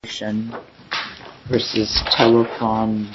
Corporation v. Telefonaktiebolaget LM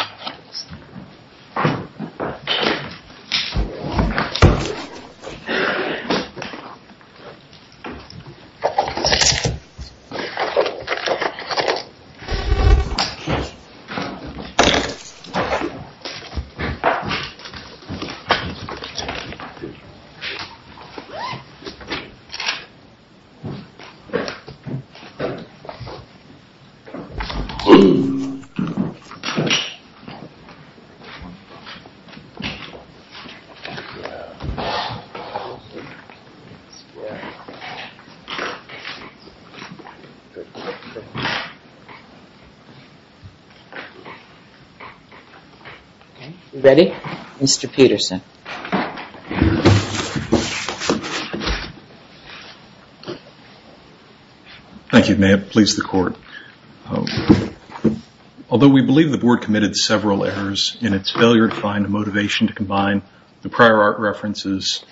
Although we believe the board committed several errors in its failure to find a motivation to combine the prior art references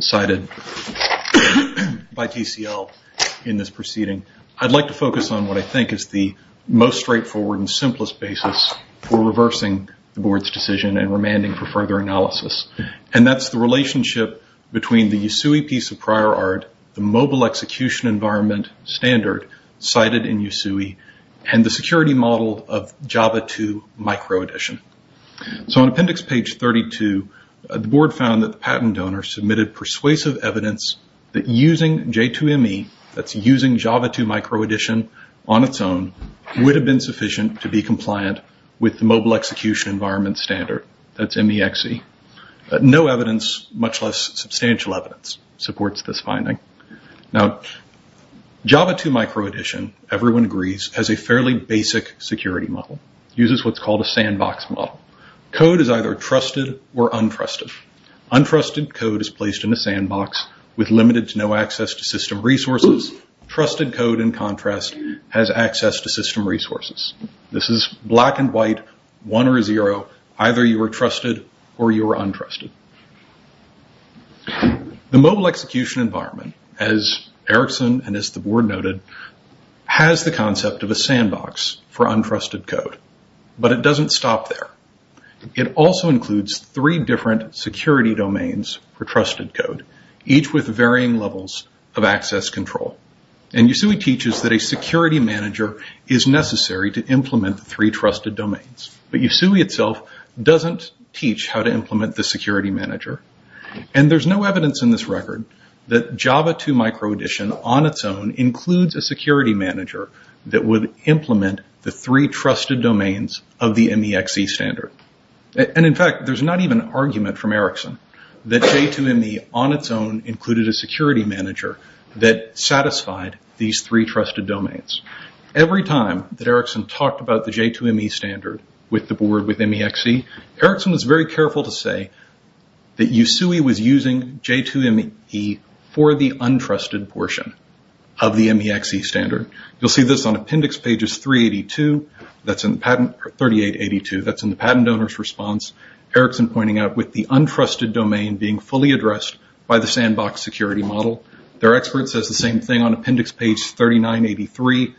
cited by TCL in this proceeding, I'd like to focus on what I think is the most straightforward and simplest basis for reversing the board's decision and remanding for further analysis. And that's the relationship between the USUI piece of prior art, the mobile execution environment standard cited in USUI, and the security model of Java 2 microedition. So on appendix page 32, the board found that the patent donor submitted persuasive evidence that using J2ME, that's using Java 2 microedition on its own, would have been sufficient to be compliant with the mobile execution environment standard, that's MEXE. No evidence, much more. Now, Java 2 microedition, everyone agrees, has a fairly basic security model. It uses what's called a sandbox model. Code is either trusted or untrusted. Untrusted code is placed in a sandbox with limited to no access to system resources. Trusted code, in contrast, has access to system resources. This is black and white, one or zero, either you were trusted or you were untrusted. As Erickson and as the board noted, has the concept of a sandbox for untrusted code. But it doesn't stop there. It also includes three different security domains for trusted code, each with varying levels of access control. And USUI teaches that a security manager is necessary to implement the three trusted domains. But USUI itself doesn't teach how to do that. Java 2 microedition on its own includes a security manager that would implement the three trusted domains of the MEXE standard. And in fact, there's not even argument from Erickson that J2ME on its own included a security manager that satisfied these three trusted domains. Every time that Erickson talked about the J2ME standard with the board with MEXE, Erickson was very careful to say that USUI was using J2ME for the untrusted portion of the MEXE standard. You'll see this on appendix pages 3882, that's in the patent donor's response. Erickson pointing out with the untrusted domain being fully addressed by the sandbox security model. Their expert says the same thing on appendix page 3983,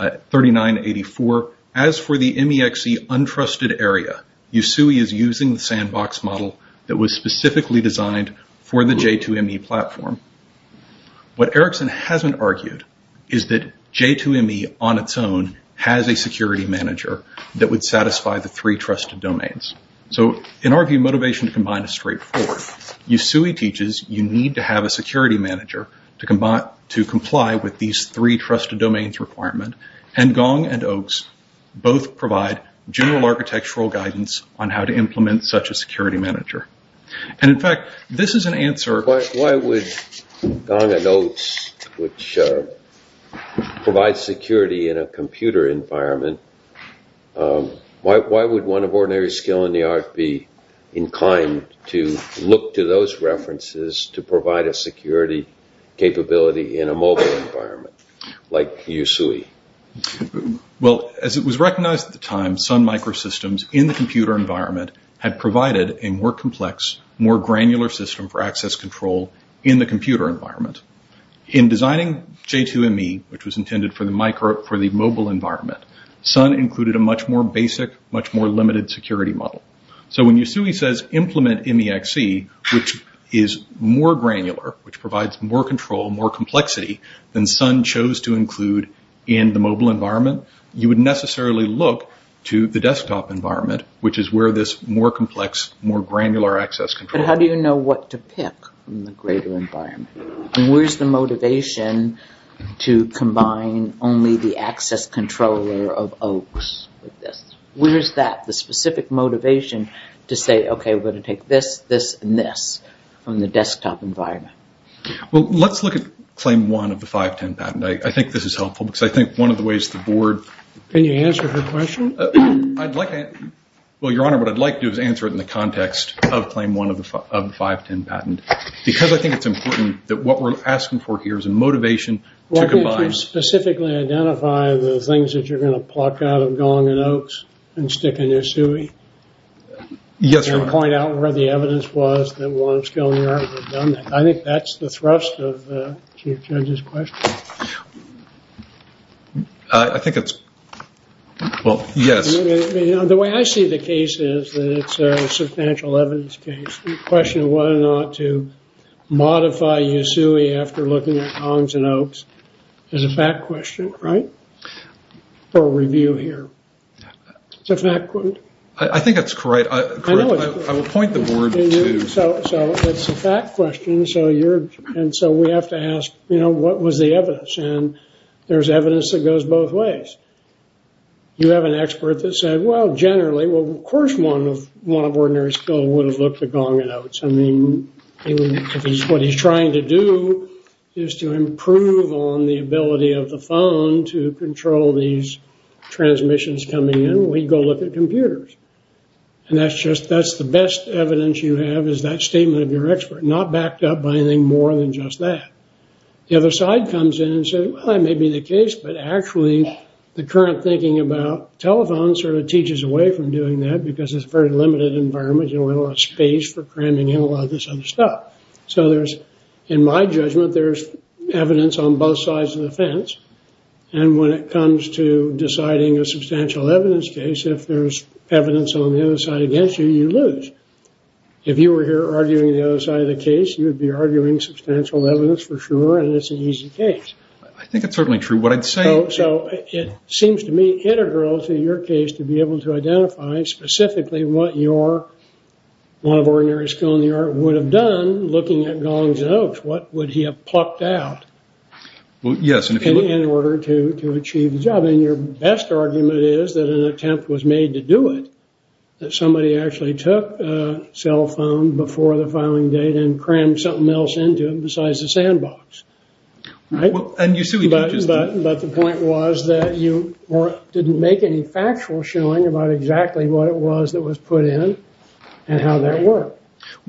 3984. As for the MEXE untrusted area, USUI is using the sandbox model that was specifically designed for the J2ME platform. What Erickson hasn't argued is that J2ME on its own has a security manager that would satisfy the three trusted domains. So in our view, motivation to combine is straightforward. USUI teaches you need to have a security manager to comply with these three trusted domains requirement and Gong and Oaks both provide general architectural guidance on how to implement such a security manager. In fact, this is an answer... Why would Gong and Oaks which provide security in a computer environment, why would one of ordinary skill in the art be inclined to look to those references to provide a security capability in a mobile environment like USUI? Well, as it was recognized at the time, Sun Microsystems in the computer environment had provided a more complex, more granular system for access control in the computer environment. In designing J2ME, which was intended for the mobile environment, Sun included a much more basic, much more limited security model. So when USUI says implement MEXE, which is more granular, which provides more control, more complexity than Sun chose to include in the mobile environment, you would necessarily look to the desktop environment, which is where this more complex, more granular access control... But how do you know what to pick in the greater environment? And where's the motivation to combine only the access controller of Oaks with that, the specific motivation to say, okay, we're going to take this, this, and this from the desktop environment? Well, let's look at claim one of the 510 patent. I think this is helpful because I think one of the ways the board... Can you answer her question? Well, Your Honor, what I'd like to do is answer it in the context of claim one of the 510 patent because I think it's important that what we're asking for here is a motivation to combine... Why don't you specifically identify the things that you're going to pluck out of Gong and Oaks and stick in USUI? Yes, Your Honor. And point out where the evidence was that Warren Schillinger would have done that. I think that's the thrust of the Chief Judge's question. I think it's... Well, yes. The way I see the case is that it's a substantial evidence case. The question of whether or not to modify USUI after looking at Gongs and Oaks is a fact question, right? For review here. It's a fact question. I think that's correct. I would point the board to... So it's a fact question. So we have to ask, you know, what was the evidence? And there's evidence that goes both ways. You have an expert that said, well, generally, well, of course one of Warren and Schillinger would have looked at Gong and Oaks. I mean, what he's trying to do is to improve on the ability of the phone to control these transmissions coming in. We go look at computers. And that's just... That's the best evidence you have is that statement of your expert, not backed up by anything more than just that. The other side comes in and says, well, that may be the case, but actually the current thinking about telephones sort of teaches away from doing that because it's a very limited environment. You don't have a lot of space for cramming in a lot of this other stuff. So there's, in my judgment, there's evidence on both sides of the fence. And when it comes to deciding a substantial evidence case, if there's evidence on the other side against you, you lose. If you were here arguing the other side of the case, you would be arguing substantial evidence for sure, and it's an easy case. I think it's certainly true. What I'd say... So it seems to me integral to your case to be able to identify specifically what your one of Warren and Schillinger would have done looking at Gong and Oaks. What would he have plucked out in order to achieve the job? And your best argument is that an attempt was made to do it, that somebody actually took a cell phone before the filing date and crammed something else into it besides the sandbox. But the point was that you didn't make any factual showing about exactly what it was that was put in and how that worked.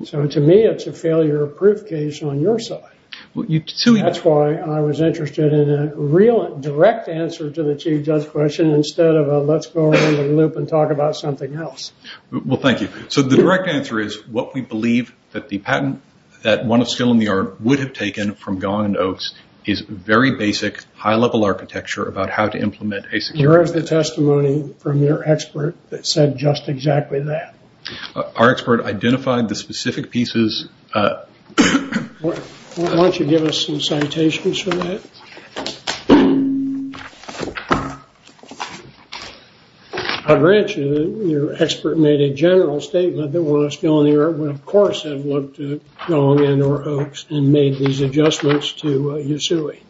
So to me, it's a failure of proof case on your side. That's why I was interested in a real direct answer to the Chief Judge question instead of a let's go around the loop and talk about something else. Well, thank you. So the direct answer is what we believe that the patent that one of Schillinger would have taken from Gong and Oaks is very basic, high-level architecture about how to implement a secure... Here is the testimony from your expert that said just exactly that. Our expert identified the specific pieces... Why don't you give us some citations for that? I grant you that your expert made a general statement that Warren and Schillinger would of course have looked at Gong and Oaks and made these adjustments to Yasui.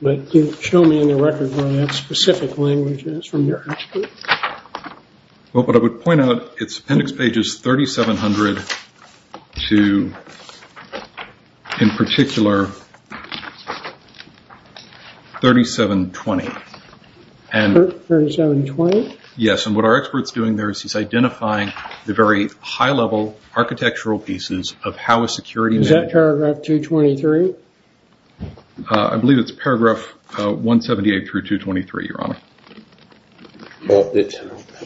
But show me in the record where that specific language is from your expert. It's appendix pages 3700 to in particular 3720. 3720? Yes, and what our expert is doing there is he is identifying the very high-level architectural pieces of how a security... Is that paragraph 223? I believe it's paragraph 178 through 223, Your Honor.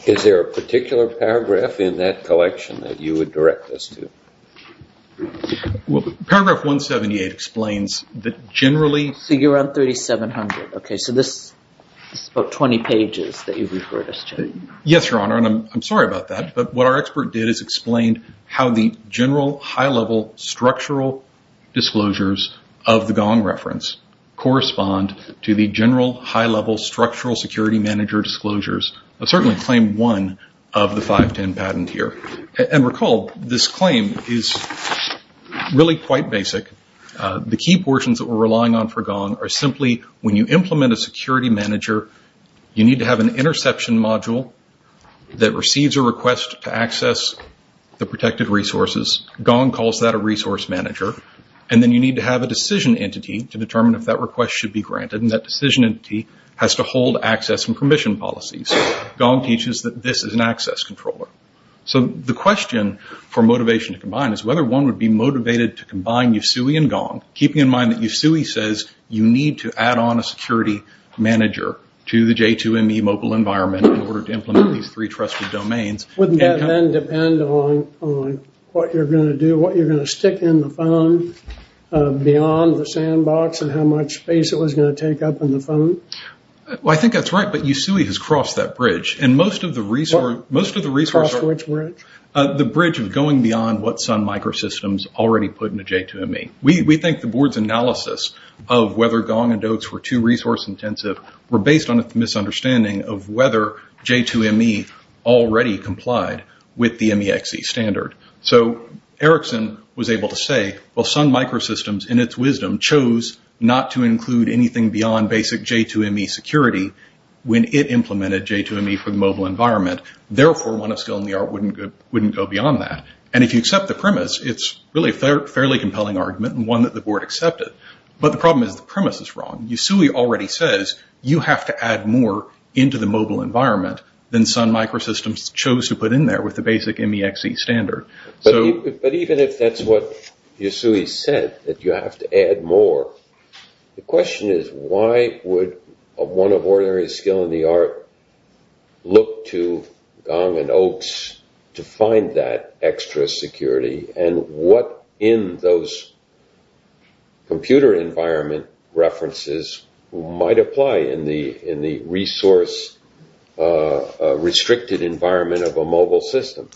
Is there a particular paragraph in that collection that you would direct us to? Well, paragraph 178 explains that generally... So you're on 3700. Okay, so this is about 20 pages that you referred us to. Yes, Your Honor, and I'm sorry about that, but what our expert did is explain how the general high-level structural disclosures of the Gong reference correspond to the general high-level structural security manager disclosures. I'll certainly claim one of the 510 patent here. And recall, this claim is really quite basic. The key portions that we're relying on for Gong are simply when you implement a security manager, you need to have an interception module that receives a request to access the protected resources. Gong calls that a resource manager, and then you need to have a decision entity to determine if that request should be granted, and that decision entity has to hold access and permission policies. Gong teaches that this is an access controller. So the question for motivation to combine is whether one would be motivated to combine Yosui and Gong, keeping in mind that Yosui says you need to add on a security manager to the J2ME mobile environment in order to implement these three trusted domains. Wouldn't that then depend on what you're going to do, what you're going to stick in the phone beyond the sandbox and how much space it was going to take up in the phone? Well, I think that's right, but Yosui has crossed that bridge. Crossed which bridge? The bridge of going beyond what Sun Microsystems already put into J2ME. We think the board's analysis of whether Gong and Oaks were too resource intensive were based on a misunderstanding of whether J2ME already complied with the MEXC standard. So Erickson was able to say, well, Sun Microsystems in its wisdom chose not to include anything beyond basic J2ME security when it implemented J2ME for the mobile environment. Therefore, one of skill in the art wouldn't go beyond that. And if you accept the premise, it's really a fairly compelling argument and one that the board accepted. But the problem is the premise is wrong. Yosui already says you have to add more into the mobile environment than Sun Microsystems chose to put in there with the basic MEXC standard. But even if that's what Yosui said, that you have to add more, the question is why would one of ordinary skill in the art look to Gong and Oaks to find that extra security and what in those computer environment references might apply in the resource restricted environment of a mobile system?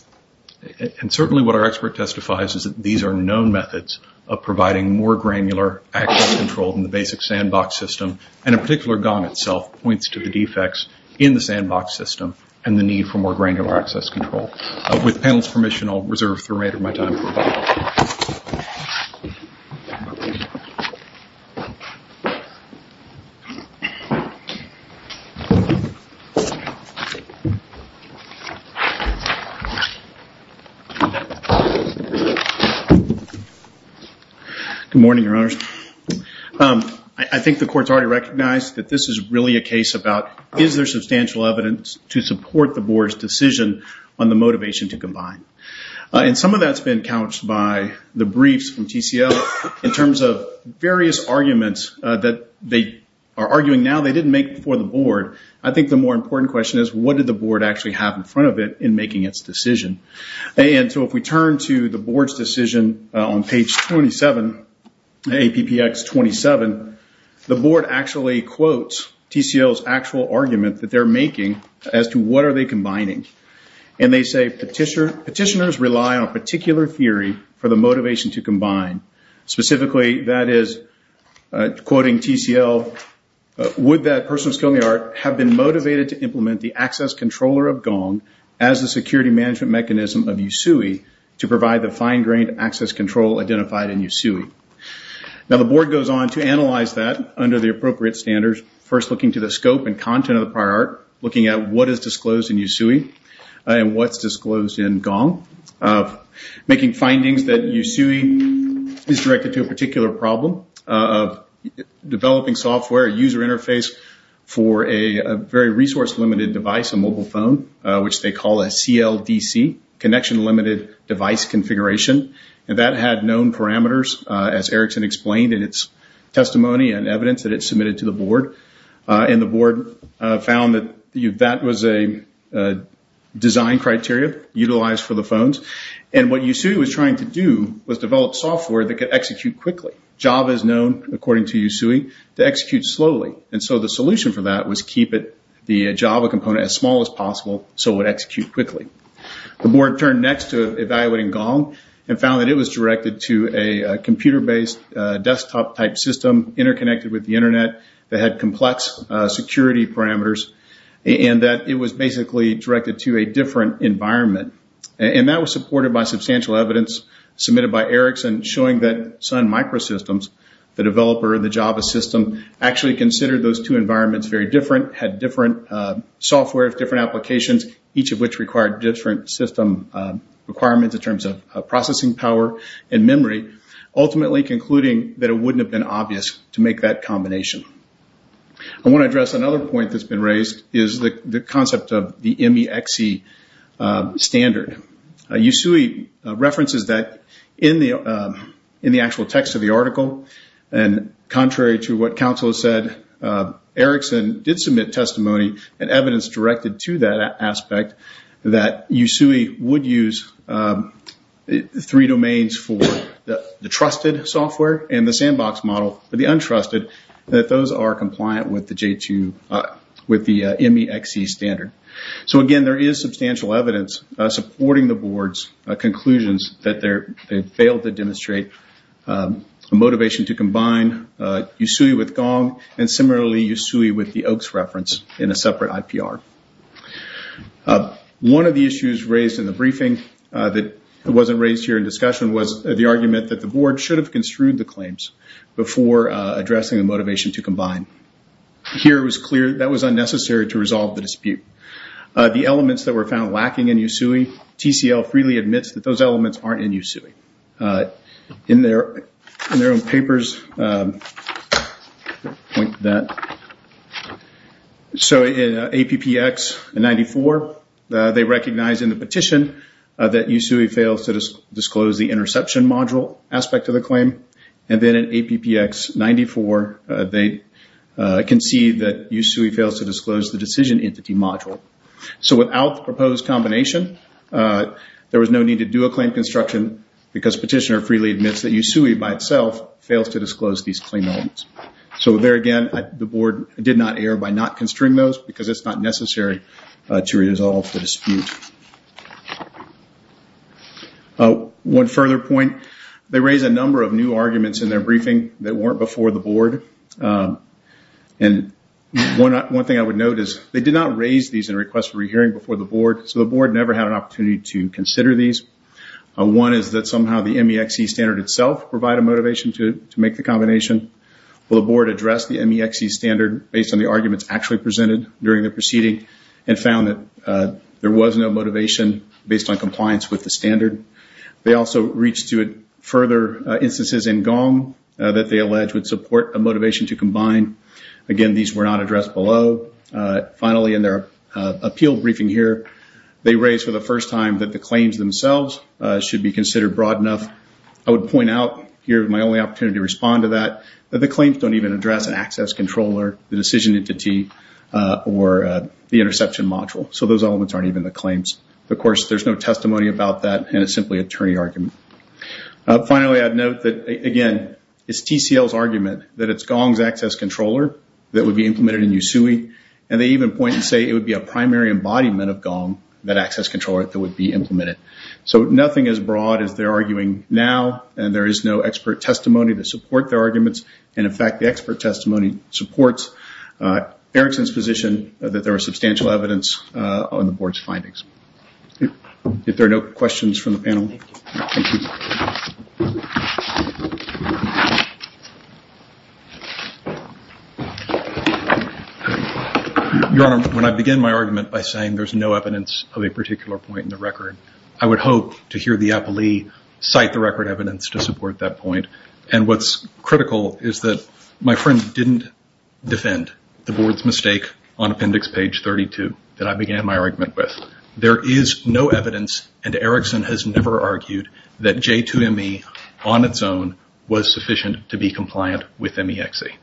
And certainly what our expert testifies is that these are known methods of providing more granular access control in the basic sandbox system. And in particular, Gong itself points to the defects in the sandbox system and the need for more granular access control. With the panel's permission, I'll reserve the remainder of my time. Good morning, your honors. I think the court's already recognized that this is really a case about is there substantial evidence to support the board's decision on the motivation to combine. And some of that's been couched by the briefs from TCL in terms of various arguments that they are arguing now they didn't make before the board. I think the more important question is what did the board actually have in front of it in making its decision? And so if we turn to the board's decision on page 27, APPX 27, the board actually quotes TCL's actual argument that they're making as to what are they combining. And they say petitioners rely on a particular theory for the motivation to combine. Specifically, that is, quoting TCL, would that person of skill in the art have been motivated to implement the access controller of Gong as the security management mechanism of USUI to provide the fine-grained access control identified in USUI? Now the board goes on to analyze that under the appropriate standards, first looking to the scope and content of the prior art, looking at what is disclosed in USUI and what's disclosed in Gong, making findings that USUI is directed to a particular problem of developing software user interface for a very resource-limited device, a mobile phone, which they call a CLDC, Connection Limited Device Configuration. And that had known parameters, as Erickson explained in its testimony and evidence that it submitted to the board. And the board found that that was a design criteria utilized for the phones. And what USUI was trying to do was develop software that could execute quickly. Java is known, according to USUI, to execute slowly. And so the solution for that was keep the Java component as small as possible so it would execute quickly. The board turned next to evaluating Gong and found that it was directed to a computer-based desktop-type system interconnected with the Internet that had complex security parameters and that it was basically directed to a different environment. And that was supported by substantial evidence submitted by Erickson showing that Sun Microsystems, the developer of the Java system, actually considered those two environments very different, had different software, different applications, each of which required different system requirements in terms of processing power and memory, ultimately concluding that it wouldn't have been obvious to make that combination. I want to address another point that's been raised, which is the concept of the MEXC standard. USUI references that in the actual text of the article, and contrary to what counsel said, Erickson did submit testimony and evidence directed to that aspect, that USUI would use three domains for the trusted software and the sandbox model for the untrusted, that those are compliant with the MEXC standard. So again, there is substantial evidence supporting the board's conclusions that they failed to demonstrate the motivation to combine USUI with Gong and similarly USUI with the Oaks reference in a separate IPR. One of the issues raised in the briefing that wasn't raised here in discussion was the argument that the board should have construed the claims before addressing the motivation to combine. Here it was clear that was unnecessary to resolve the dispute. The elements that were found lacking in USUI, TCL freely admits that those elements aren't in USUI. In their own papers, so in APPX 94, they recognize in the petition that USUI fails to disclose the interception module aspect of the claim. And then in APPX 94, they concede that USUI fails to disclose the decision entity module. So without the proposed combination, there was no need to do a claim construction because petitioner freely admits that USUI by itself fails to disclose these claim elements. So there again, the board did not err by not construing those because it's not necessary to resolve the dispute. One further point, they raised a number of new arguments in their briefing that weren't before the board. And one thing I would note is they did not raise these in a request for a hearing before the board. So the board never had an opportunity to consider these. One is that somehow the MEXC standard itself provide a motivation to make the combination. Well, the board addressed the MEXC standard based on the arguments actually presented during the proceeding and found that there was no motivation based on compliance with the standard. They also reached to further instances in GOM that they allege would support a motivation to combine. Again, these were not addressed below. Finally, in their appeal briefing here, they raised for the first time that the claims themselves should be considered broad enough. I would point out here my only opportunity to respond to that, that the claims don't even address an access controller, the decision entity, or the interception module. So those elements aren't even the claims. Of course, there's no testimony about that, and it's simply an attorney argument. Finally, I'd note that, again, it's TCL's argument that it's GOM's access controller that would be implemented in USUI. And they even point and say it would be a primary embodiment of GOM, that access controller, that would be implemented. So nothing as broad as they're arguing now, and there is no expert testimony to support their arguments. And, in fact, the expert testimony supports Erickson's position that there was substantial evidence on the board's findings. If there are no questions from the panel. Your Honor, when I began my argument by saying there's no evidence of a particular point in the record, I would hope to hear the appellee cite the record evidence to support that point. And what's critical is that my friend didn't defend the board's mistake on appendix page 32 that I began my argument with. There is no evidence, and Erickson has never argued, that J2ME on its own was sufficient to be compliant with MEXC.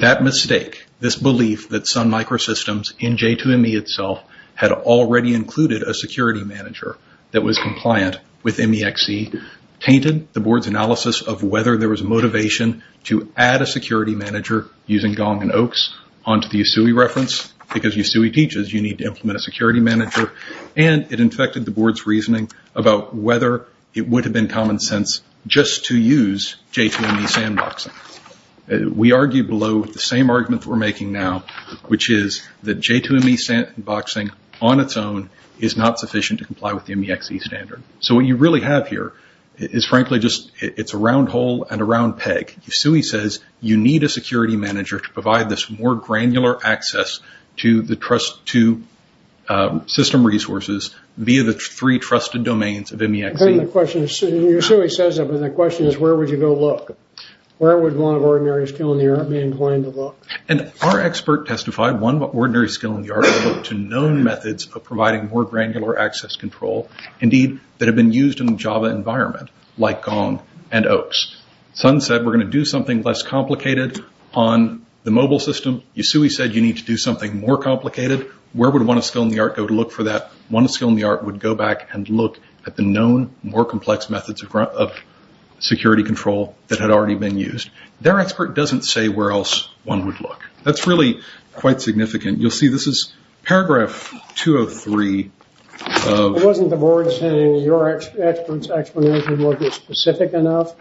That mistake, this belief that Sun Microsystems, in J2ME itself, had already included a security manager that was compliant with MEXC, tainted the board's analysis of whether there was motivation to add a security manager using Gong and Oaks onto the Yasui reference, because Yasui teaches you need to implement a security manager, and it infected the board's reasoning about whether it would have been common sense just to use J2ME sandboxing. We argue below with the same argument that we're making now, which is that J2ME sandboxing on its own is not sufficient to comply with the MEXC standard. So what you really have here is, frankly, it's a round hole and a round peg. Yasui says you need a security manager to provide this more granular access to system resources via the three trusted domains of MEXC. Yasui says that, but the question is where would you go look? Where would one of ordinary skill in the art be inclined to look? Our expert testified one ordinary skill in the art would look to known methods of providing more granular access control, indeed, that have been used in the Java environment, like Gong and Oaks. Sun said we're going to do something less complicated on the mobile system. Yasui said you need to do something more complicated. Where would one of skill in the art go to look for that? One of skill in the art would go back and look at the known, more complex methods of security control that had already been used. Their expert doesn't say where else one would look. That's really quite significant. You'll see this is paragraph 203. Wasn't the board saying your expert's explanation wasn't specific enough?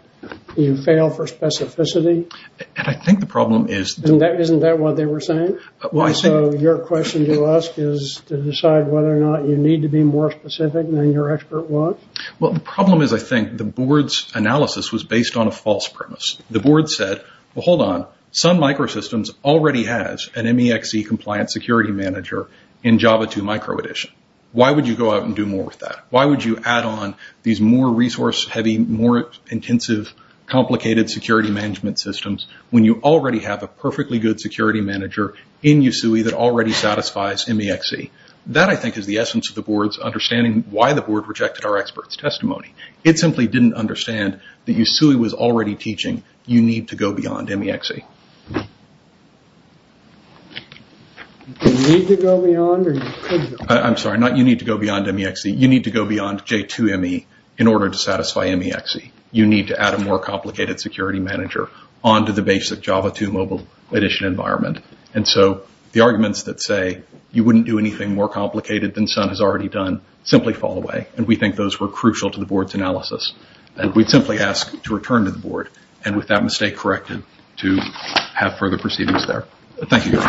You fail for specificity? Isn't that what they were saying? Your question to ask is to decide whether or not you need to be more specific than your expert was? The problem is I think the board's analysis was based on a false premise. The board said, hold on, Sun Microsystems already has an MEXC compliant security manager in Java 2 micro edition. Why would you go out and do more with that? Why would you add on these more resource heavy, more intensive, complicated security management systems when you already have a perfectly good security manager in Yasui that already satisfies MEXC? That I think is the essence of the board's understanding why the board rejected our expert's testimony. It simply didn't understand that Yasui was already teaching you need to go beyond MEXC. You need to go beyond J2ME in order to satisfy MEXC. You need to add a more complicated security manager onto the basic Java 2 mobile edition environment. The arguments that say you wouldn't do anything more complicated than Sun has already done simply fall away. We think those were crucial to the board's analysis. We simply ask to return to the board and with that mistake corrected to have further proceedings there. Thank you.